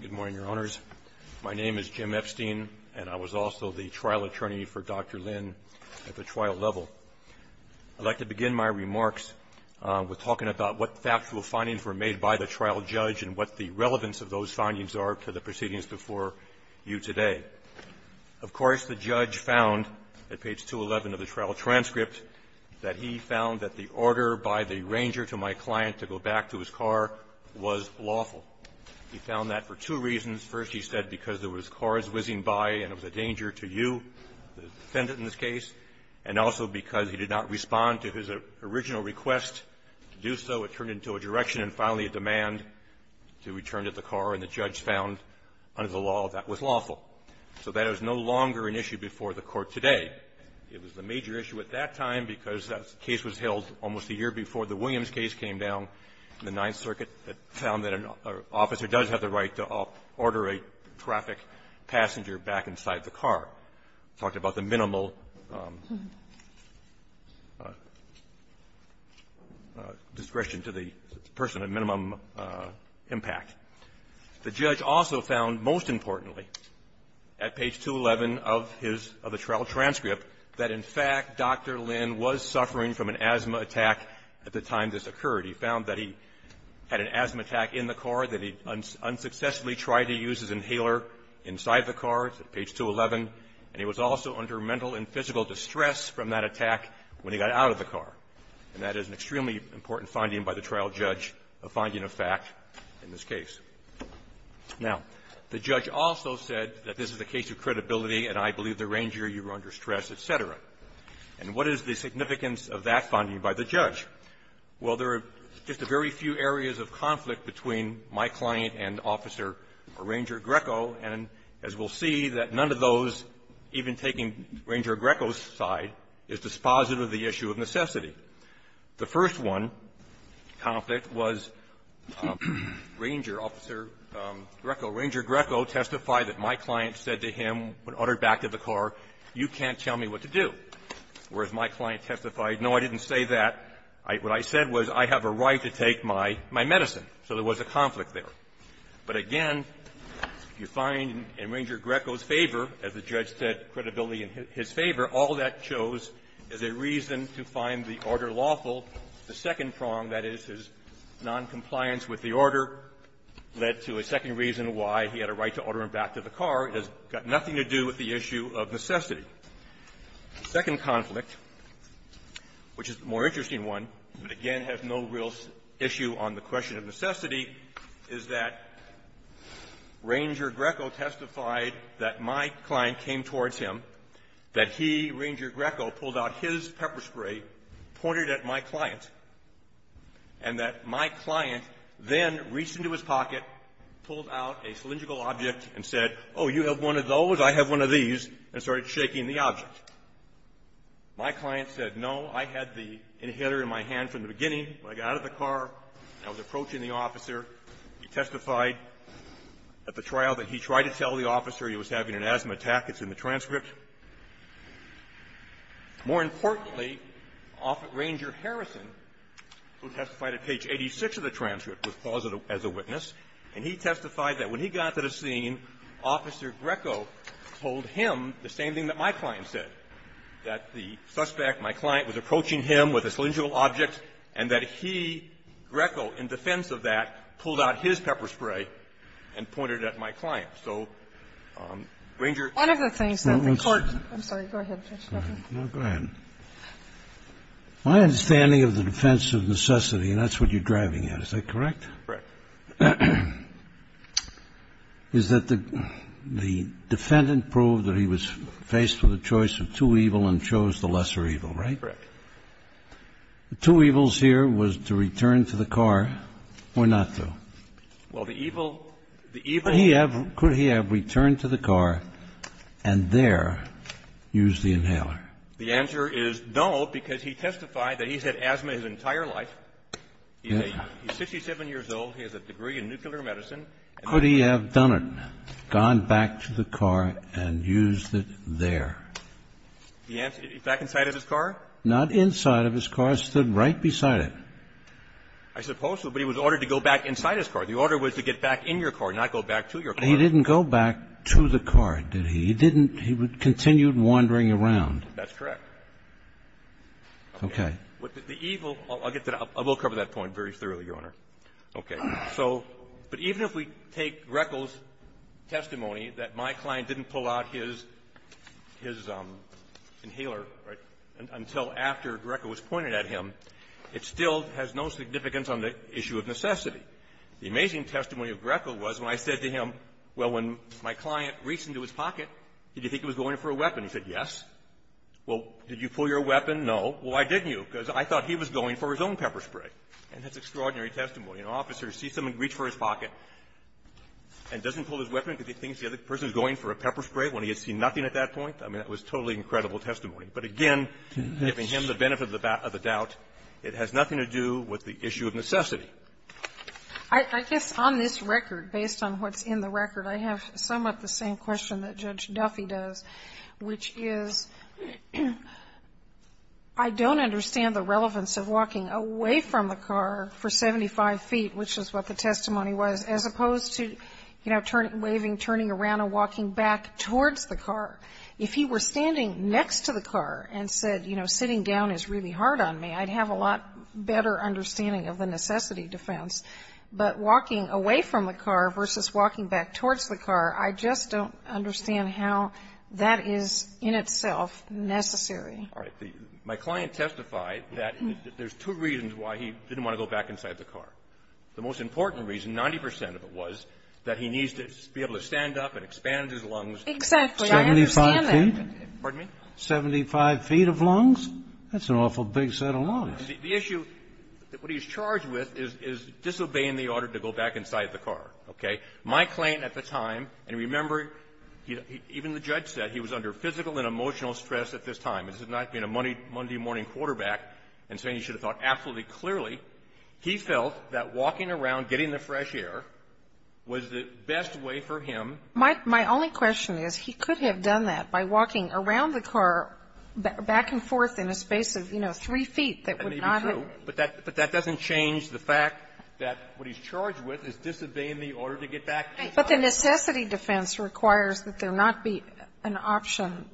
Good morning, Your Honors. My name is Jim Epstein, and I was also the trial attorney for Dr. Lin at the trial level. I'd like to begin my remarks with talking about what factual findings were made by the trial judge and what the relevance of those findings are to the proceedings before you today. Of course, the judge found at page 211 of the trial transcript that he found that the order by the arranger to my client to go back to his car was lawful. He found that for two reasons. First, he said because there was cars whizzing by and it was a danger to you, the defendant in this case, and also because he did not respond to his original request to do so. It turned into a direction and finally a demand to return to the car, and the judge found under the law that was lawful. So that is no longer an issue before the Court today. It was a major issue at that time because that case was held almost a year before the Williams case came down in the Ninth Circuit that found that an officer does have the right to order a traffic passenger back inside the car. Talked about the minimal discretion to the person of minimum impact. The judge also found, most importantly, at page 211 of his other trial transcript that, in fact, Dr. Lynn was suffering from an asthma attack at the time this occurred. He found that he had an asthma attack in the car, that he unsuccessfully tried to use his inhaler inside the car. It's at page 211. And he was also under mental and physical distress from that attack when he got out of the car. And that is an extremely important finding by the trial judge, a finding of fact in this case. Now, the judge also said that this is a case of credibility and I believe the arranger was under stress, et cetera. And what is the significance of that finding by the judge? Well, there are just a very few areas of conflict between my client and Officer Ranger Greco, and as we'll see, that none of those, even taking Ranger Greco's side, is dispositive of the issue of necessity. The first one, conflict, was Ranger Officer Greco. Ranger Greco testified that my client said to him, when ordered back to the car, you can't tell me what to do. Whereas my client testified, no, I didn't say that. What I said was, I have a right to take my medicine. So there was a conflict there. But again, you find in Ranger Greco's favor, as the judge said, credibility in his favor, all that shows is a reason to find the order lawful. The second prong, that is, his noncompliance with the order led to a second reason why he had a right to order him back to the car, has got nothing to do with the issue of necessity. The second conflict, which is the more interesting one, but again has no real issue on the question of necessity, is that Ranger Greco testified that my client came towards him, that he, Ranger Greco, pulled out his pepper spray, pointed at my client, and that my client then reached into his pocket, pulled out a cylindrical object, and said, oh, you have one of those, I have one of these, and started shaking the object. My client said, no, I had the inhaler in my hand from the beginning. When I got out of the car and I was approaching the officer, he testified at the trial that he tried to tell the officer he was having an asthma attack, it's in the transcript. More importantly, Ranger Harrison, who testified at page 86 of the transcript, was paused as a witness, and he testified that when he got to the scene, Officer Greco told him the same thing that my client said, that the suspect, my client, was approaching him with a cylindrical object and that he, Greco, in defense of that, pulled out his pepper spray and pointed at my client. So Ranger ---- One of the things that the Court ---- I'm sorry. Go ahead. Go ahead. My understanding of the defense of necessity, and that's what you're driving at, is that correct? Correct. Is that the defendant proved that he was faced with a choice of two evil and chose the lesser evil, right? Correct. The two evils here was to return to the car or not to? Well, the evil ---- Could he have returned to the car and there used the inhaler? The answer is no, because he testified that he's had asthma his entire life. Yes. He's 67 years old. He has a degree in nuclear medicine. Could he have done it, gone back to the car and used it there? Back inside of his car? Not inside of his car. He stood right beside it. I suppose so, but he was ordered to go back inside his car. The order was to get back in your car, not go back to your car. He didn't go back to the car, did he? He didn't ---- he continued wandering around. That's correct. Okay. The evil ---- I'll get to that. I will cover that point very thoroughly, Your Honor. Okay. So ---- but even if we take Greco's testimony that my client didn't pull out his inhaler until after Greco was pointed at him, it still has no significance on the issue of necessity. The amazing testimony of Greco was when I said to him, well, when my client reached into his pocket, did you think he was going for a weapon? He said, yes. Well, did you pull your weapon? No. Well, why didn't you? Because I thought he was going for his own pepper spray. And that's extraordinary testimony. An officer sees someone reach for his pocket and doesn't pull his weapon because he thinks the other person is going for a pepper spray when he had seen nothing at that point. I mean, that was totally incredible testimony. But again, giving him the benefit of the doubt, it has nothing to do with the issue of necessity. I guess on this record, based on what's in the record, I have somewhat the same question that Judge Duffy does, which is, I don't understand the relevance of walking away from the car for 75 feet, which is what the testimony was, as opposed to, you know, turning, waving, turning around and walking back towards the car. If he were standing next to the car and said, you know, sitting down is really hard on me, I'd have a lot better understanding of the necessity defense. But walking away from the car versus walking back towards the car, I just don't understand how that is in itself necessary. All right. My client testified that there's two reasons why he didn't want to go back inside the car. The most important reason, 90 percent of it was that he needs to be able to stand up and expand his lungs. Exactly. Well, I understand that. 75 feet? Pardon me? 75 feet of lungs? That's an awful big set of lungs. The issue that he's charged with is disobeying the order to go back inside the car. Okay? My claim at the time, and remember, even the judge said he was under physical and emotional stress at this time. This is not being a Monday morning quarterback and saying he should have thought absolutely clearly. He felt that walking around, getting the fresh air, was the best way for him. My only question is, he could have done that by walking around the car, back and forth in a space of, you know, 3 feet that would not have been. That may be true. But that doesn't change the fact that what he's charged with is disobeying the order to get back inside the car. But the necessity defense requires that there not be an option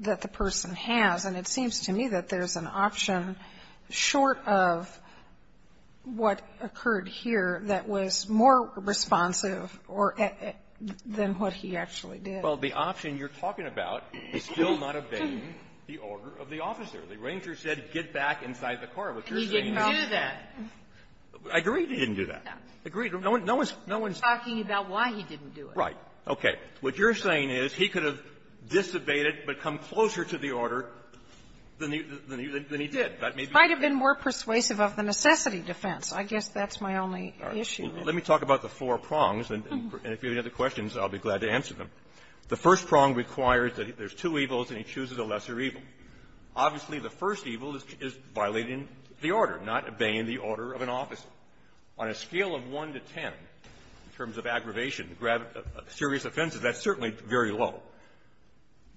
that the person has, and it seems to me that there's an option short of what occurred here that was more responsive or than what he actually did. Well, the option you're talking about is still not obeying the order of the officer. The ranger said get back inside the car. What you're saying is that he didn't do that. I agree he didn't do that. Agreed. No one's talking about why he didn't do it. Right. Okay. What you're saying is he could have disobeyed it but come closer to the order than he did. That may be true. He might have been more persuasive of the necessity defense. I guess that's my only issue. Let me talk about the four prongs. And if you have any other questions, I'll be glad to answer them. The first prong requires that there's two evils, and he chooses a lesser evil. Obviously, the first evil is violating the order, not obeying the order of an officer. On a scale of 1 to 10, in terms of aggravation, serious offenses, that's certainly very low.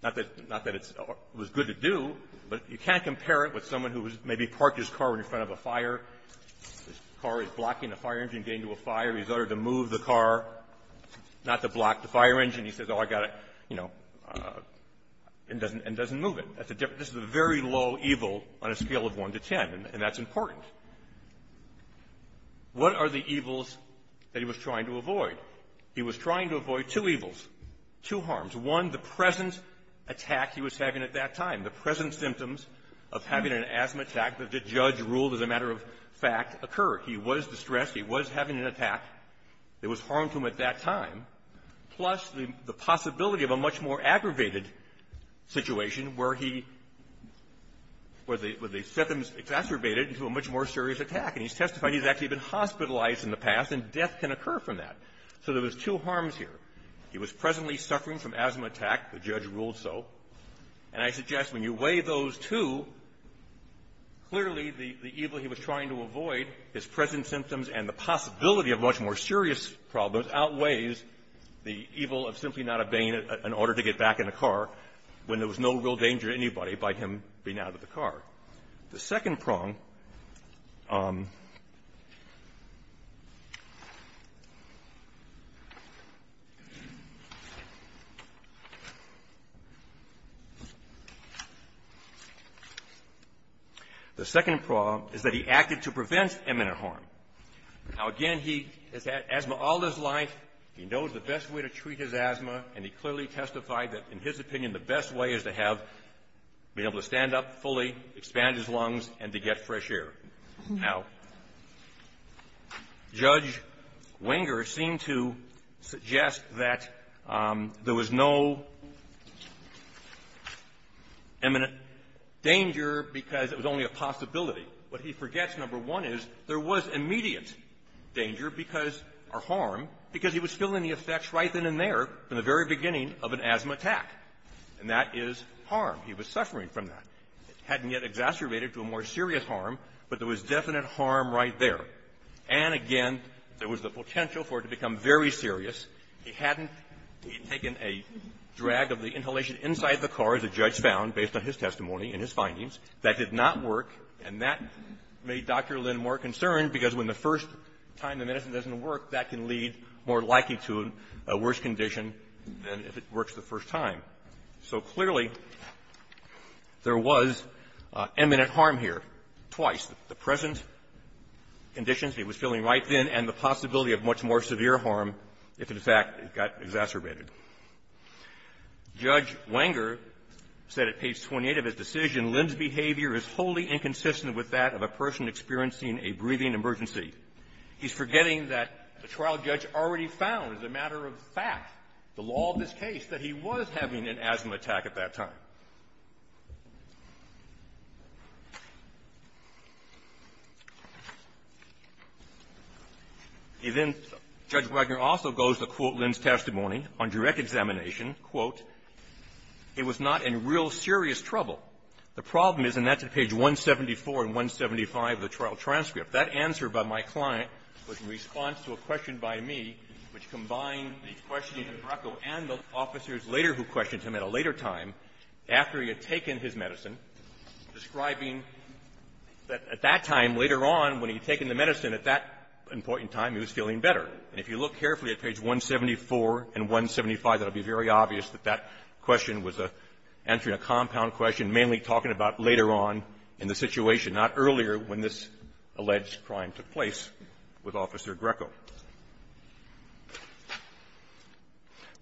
Not that it was good to do, but you can't compare it with someone who maybe parked his car in front of a fire. His car is blocking a fire engine getting to a fire. He's ordered to move the car, not to block the fire engine. He says, oh, I got to, you know, and doesn't move it. That's a very low evil on a scale of 1 to 10, and that's important. What are the evils that he was trying to avoid? He was trying to avoid two evils, two harms. One, the present attack he was having at that time. The present symptoms of having an asthma attack that the judge ruled as a matter of fact occur. He was distressed. He was having an attack that was harmful at that time. Plus, the possibility of a much more aggravated situation where he was exacerbated into a much more serious attack, and he's testifying he's actually been hospitalized in the past, and death can occur from that. So there was two harms here. He was presently suffering from asthma attack. The judge ruled so. And I suggest when you weigh those two, clearly the evil he was trying to avoid, his present symptoms, and the possibility of much more serious problems outweighs the evil of simply not obeying an order to get back in a car when there was no real danger to anybody by him being out of the car. The second prong is that he acted to prevent imminent harm. Now, again, he has had asthma all his life. He knows the best way to treat his asthma, and he clearly testified that, in his opinion, the best way is to have been able to stand up fully, expand his lungs, and to get fresh air. Now, Judge Wenger seemed to suggest that there was no imminent danger because it was only a possibility. What he forgets, number one, is there was immediate danger because or harm because he was feeling the effects right then and there from the very beginning of an asthma attack, and that is harm. He was suffering from that. It hadn't yet exacerbated to a more serious harm, but there was definite harm right there. And, again, there was the potential for it to become very serious. He hadn't taken a drag of the inhalation inside the car, as the judge found, based on his testimony and his findings. That did not work, and that made Dr. Lynn more concerned because when the first time the medicine doesn't work, that can lead more likely to a worse condition than if it works the first time. So clearly, there was imminent harm here, twice, the present conditions he was feeling right then and the possibility of much more severe harm if, in fact, it got exacerbated. Judge Wenger said at page 28 of his decision, And then Judge Wenger also goes to quote Lynn's testimony on direct examination. Quote, It was not in real serious trouble. The problem is, and that's at page 174 and 175 of the trial transcript, that answer by my client was in response to a question by me which combined the questioning of Draco and the officers later who questioned him at a later time after he had taken his medicine, describing that at that time later on when he had taken the medicine at that important time, he was feeling better. And if you look carefully at page 174 and 175, it will be very obvious that that question was answering a compound question mainly talking about later on in the situation, not earlier when this alleged crime took place with Officer Draco.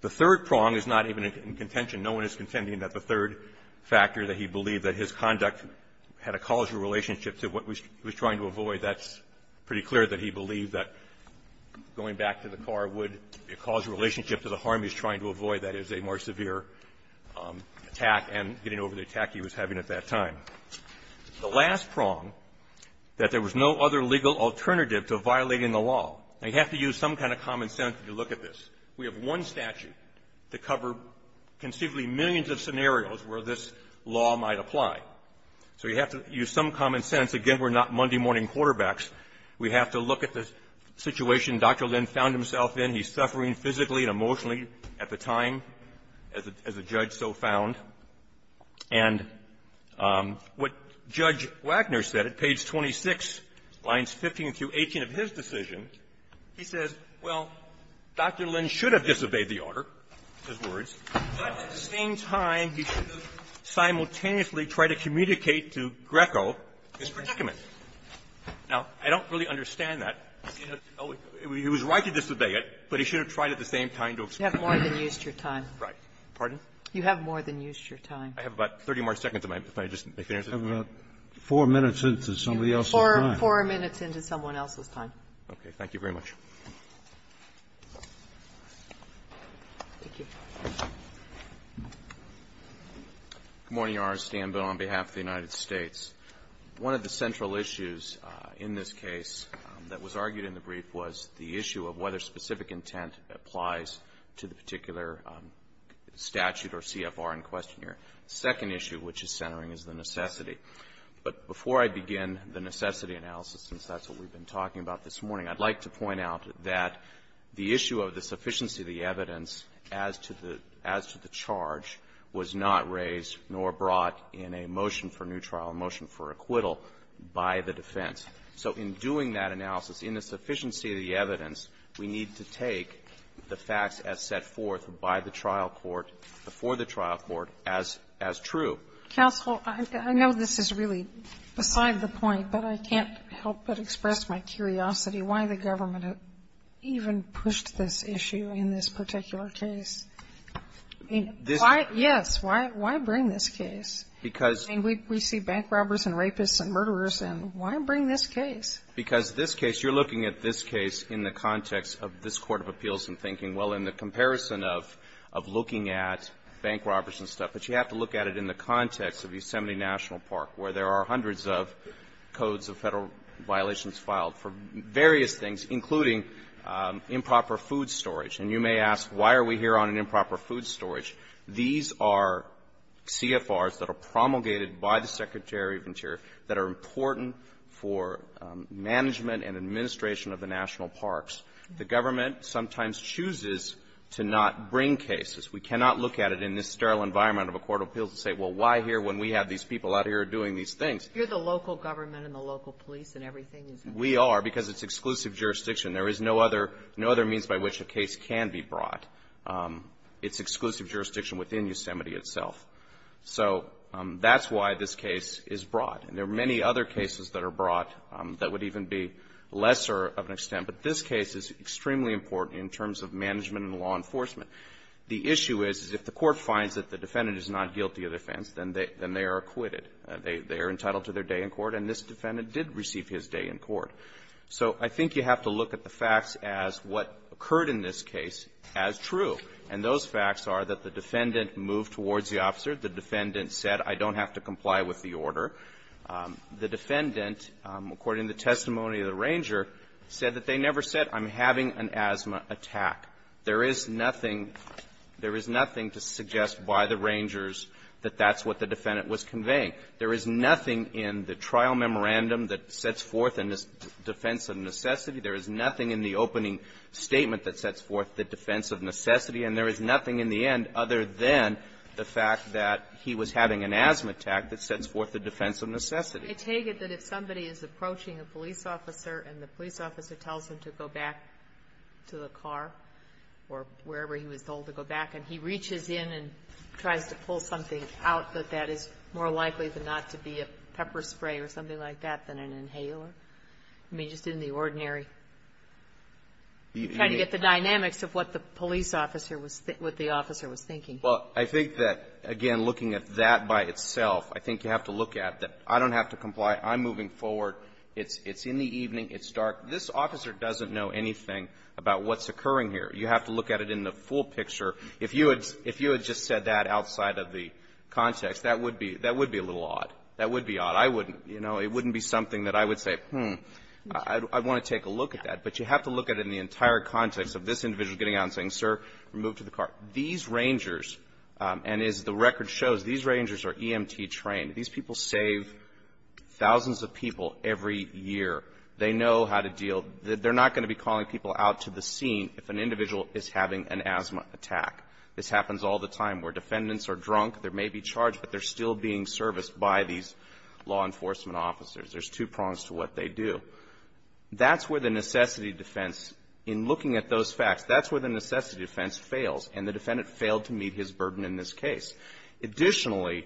The third prong is not even in contention. No one is contending that the third factor, that he believed that his conduct had a causal relationship to what he was trying to avoid, that's pretty clear that he believed that going back to the car would cause a relationship to the harm he was trying to avoid, that is, a more severe attack and getting over the attack he was having at that time. The last prong, that there was no other legal alternative to violating the law. Now, you have to use some kind of common sense to look at this. We have one statute to cover conceivably millions of scenarios where this law might apply. So you have to use some common sense. Again, we're not Monday morning quarterbacks. We have to look at the situation Dr. Lynn found himself in. He's suffering physically and emotionally at the time, as a judge so found. And what Judge Wagner said at page 26, lines 15 through 18 of his decision, he says, well, Dr. Lynn should have disobeyed the order, his words, but at the same time, he should have simultaneously tried to communicate to Draco his predicament. Now, I don't really understand that. He was right to disobey it, but he should have tried at the same time to explain it. Kagan. You have more than used your time. Right. Pardon? You have more than used your time. I have about 30 more seconds if I just make the answer. I have about four minutes into somebody else's time. Four minutes into someone else's time. Okay. Thank you very much. Thank you. Good morning, Your Honor. Stan Bowen on behalf of the United States. One of the central issues in this case that was argued in the brief was the issue of whether specific intent applies to the particular statute or CFR in question here. The second issue which is centering is the necessity. But before I begin the necessity analysis, since that's what we've been talking about this morning, I'd like to point out that the issue of the sufficiency of the evidence as to the charge was not raised nor brought in a motion for new trial or a motion for acquittal by the defense. So in doing that analysis, in the sufficiency of the evidence, we need to take the facts as set forth by the trial court before the trial court as true. Counsel, I know this is really beside the point, but I can't help but express my curiosity why the government even pushed this issue in this particular case. I mean, why — yes, why bring this case? Because — I mean, we see bank robbers and rapists and murderers, and why bring this case? Because this case, you're looking at this case in the context of this court of appeals and thinking, well, in the comparison of looking at bank robbers and stuff, but you have to look at it in the context of Yosemite National Park, where there are hundreds of codes of Federal violations filed for various things, including improper food storage. And you may ask, why are we here on improper food storage? These are CFRs that are promulgated by the Secretary of Interior that are important for management and administration of the national parks. The government sometimes chooses to not bring cases. We cannot look at it in this sterile environment of a court of appeals and say, well, why here when we have these people out here doing these things? You're the local government and the local police and everything is — We are, because it's exclusive jurisdiction. There is no other — no other means by which a case can be brought. It's exclusive jurisdiction within Yosemite itself. So that's why this case is brought. And there are many other cases that are brought that would even be lesser of an extent. But this case is extremely important in terms of management and law enforcement. The issue is, is if the court finds that the defendant is not guilty of offense, then they are acquitted. They are entitled to their day in court. And this defendant did receive his day in court. So I think you have to look at the facts as what occurred in this case as true. And those facts are that the defendant moved towards the officer. The defendant said, I don't have to comply with the order. The defendant, according to the testimony of the ranger, said that they never said, I'm having an asthma attack. There is nothing — there is nothing to suggest by the rangers that that's what the defendant was conveying. There is nothing in the trial memorandum that sets forth in his defense of necessity. There is nothing in the opening statement that sets forth the defense of necessity. And there is nothing in the end other than the fact that he was having an asthma attack that sets forth the defense of necessity. Sotomayor, I take it that if somebody is approaching a police officer, and the police officer tells him to go back to the car or wherever he was told to go back, and he not to be a pepper spray or something like that than an inhaler? I mean, just in the ordinary — trying to get the dynamics of what the police officer was — what the officer was thinking. Well, I think that, again, looking at that by itself, I think you have to look at that I don't have to comply. I'm moving forward. It's in the evening. It's dark. This officer doesn't know anything about what's occurring here. You have to look at it in the full picture. If you had just said that outside of the context, that would be a little odd. That would be odd. I wouldn't. You know, it wouldn't be something that I would say, hmm, I want to take a look at that. But you have to look at it in the entire context of this individual getting out and saying, sir, move to the car. These rangers, and as the record shows, these rangers are EMT-trained. These people save thousands of people every year. They know how to deal. They're not going to be calling people out to the scene if an individual is having an asthma attack. This happens all the time where defendants are drunk. They may be charged, but they're still being serviced by these law enforcement officers. There's two prongs to what they do. That's where the necessity defense, in looking at those facts, that's where the necessity defense fails, and the defendant failed to meet his burden in this case. Additionally,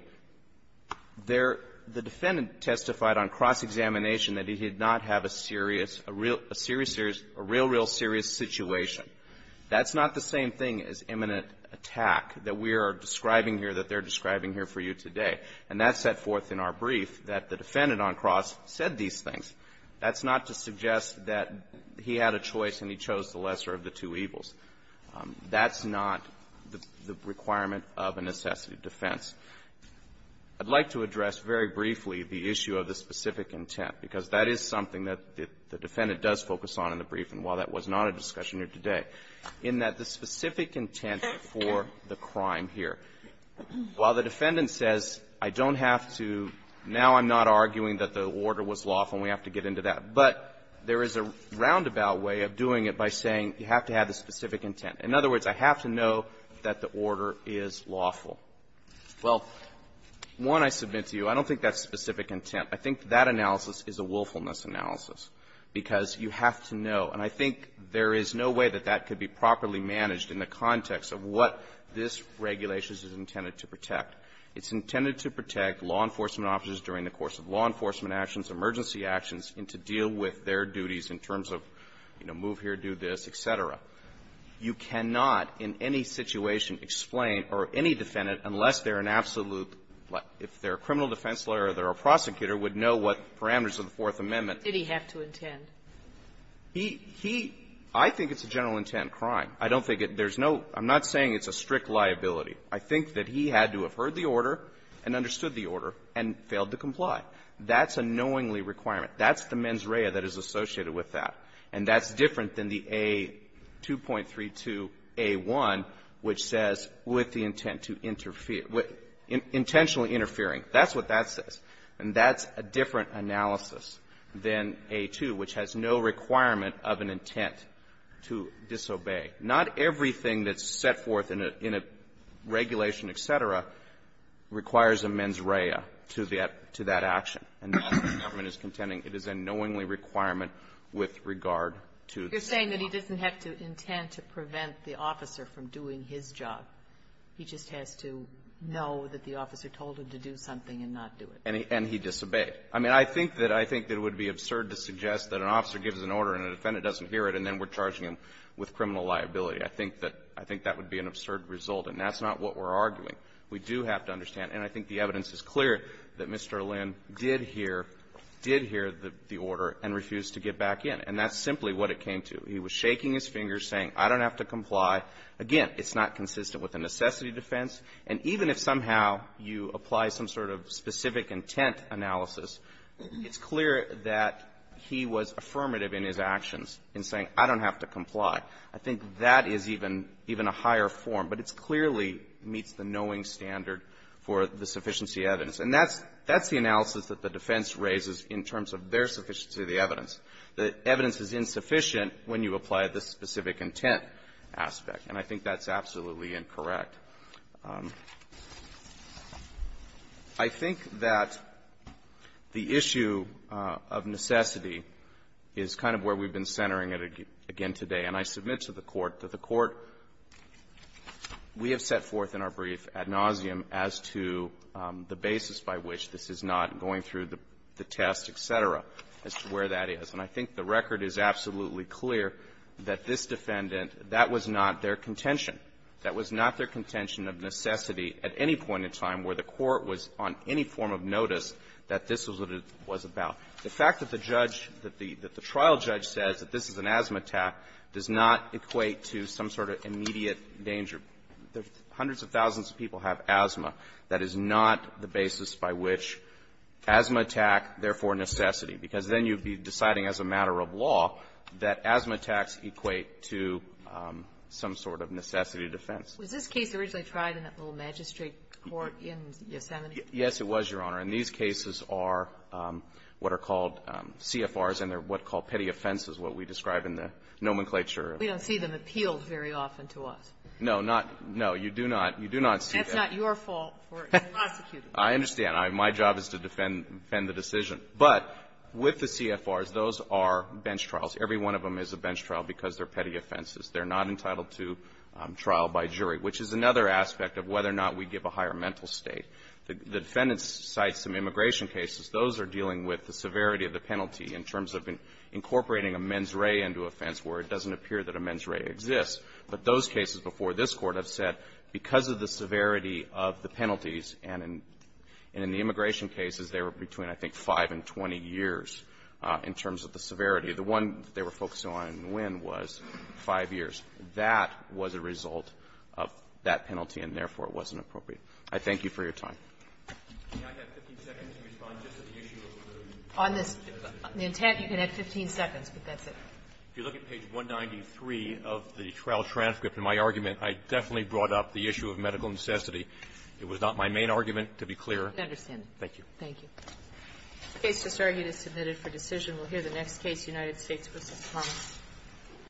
there the defendant testified on cross-examination that he did not have a serious, a real, a serious, a real, real serious situation. That's not the same thing as imminent attack that we are describing here that they're describing here for you today. And that's set forth in our brief that the defendant on cross said these things. That's not to suggest that he had a choice and he chose the lesser of the two evils. That's not the requirement of a necessity defense. I'd like to address very briefly the issue of the specific intent, because that is something that the defendant does focus on in the brief. And while that was not a discussion here today, in that the specific intent for the crime here, while the defendant says, I don't have to, now I'm not arguing that the order was lawful and we have to get into that, but there is a roundabout way of doing it by saying you have to have the specific intent. In other words, I have to know that the order is lawful. Well, one, I submit to you, I don't think that's specific intent. I think that analysis is a willfulness analysis, because you have to know. And I think there is no way that that could be properly managed in the context of what this regulation is intended to protect. It's intended to protect law enforcement officers during the course of law enforcement actions, emergency actions, and to deal with their duties in terms of, you know, move here, do this, et cetera. You cannot in any situation explain or any defendant, unless they're an absolute lawyer. If they're a criminal defense lawyer or they're a prosecutor, would know what parameters of the Fourth Amendment. Did he have to intend? He he I think it's a general intent crime. I don't think it there's no I'm not saying it's a strict liability. I think that he had to have heard the order and understood the order and failed to comply. That's a knowingly requirement. That's the mens rea that is associated with that. And that's different than the A2.32a1, which says with the intent to interfere with intentionally interfering. That's what that says. And that's a different analysis than A2, which has no requirement of an intent to disobey. Not everything that's set forth in a regulation, et cetera, requires a mens rea to that action. And that's what the government is contending. It is a knowingly requirement with regard to the State. You're saying that he doesn't have to intend to prevent the officer from doing his job. He just has to know that the officer told him to do something and not do it. And he disobeyed. I mean, I think that it would be absurd to suggest that an officer gives an order and a defendant doesn't hear it, and then we're charging him with criminal liability. I think that would be an absurd result. And that's not what we're arguing. We do have to understand. And I think the evidence is clear that Mr. Lynn did hear, did hear the order and refused to get back in. And that's simply what it came to. He was shaking his fingers, saying, I don't have to comply. Again, it's not consistent with a necessity defense. And even if somehow you apply some sort of specific intent analysis, it's clear that he was affirmative in his actions in saying, I don't have to comply. I think that is even a higher form. But it clearly meets the knowing standard for the sufficiency evidence. And that's the analysis that the defense raises in terms of their sufficiency of the evidence. The evidence is insufficient when you apply the specific intent aspect. And I think that's absolutely incorrect. I think that the issue of necessity is kind of where we've been centering it again today. And I submit to the Court that the Court, we have set forth in our brief ad nauseum as to the basis by which this is not going through the test, et cetera, as to where that is. And I think the record is absolutely clear that this defendant, that was not their contention. That was not their contention of necessity at any point in time where the Court was on any form of notice that this was what it was about. The fact that the judge, that the trial judge says that this is an asthma attack does not equate to some sort of immediate danger. Hundreds of thousands of people have asthma. That is not the basis by which asthma attack, therefore necessity, because then you'd be deciding as a matter of law that asthma attacks equate to some sort of necessity defense. Was this case originally tried in that little magistrate court in Yosemite? Yes, it was, Your Honor. And these cases are what are called CFRs, and they're what are called petty offenses, what we describe in the nomenclature. We don't see them appealed very often to us. No, not no. You do not. You do not see that. That's not your fault for prosecuting. I understand. My job is to defend the decision. But with the CFRs, those are bench trials. Every one of them is a bench trial because they're petty offenses. They're not entitled to trial by jury, which is another aspect of whether or not we give a higher mental state. The defendants cite some immigration cases. Those are dealing with the severity of the penalty in terms of incorporating a mens rea into a offense where it doesn't appear that a mens rea exists. And in the immigration cases, they were between, I think, 5 and 20 years in terms of the severity. The one they were focusing on in Nguyen was 5 years. That was a result of that penalty, and, therefore, it wasn't appropriate. I thank you for your time. Can I have 15 seconds to respond just to the issue of the intent? You can have 15 seconds, but that's it. If you look at page 193 of the trial transcript, in my argument, I definitely brought up the issue of medical necessity. It was not my main argument, to be clear. I understand. Thank you. Thank you. The case is argued and submitted for decision. We'll hear the next case, United States v. Thomas.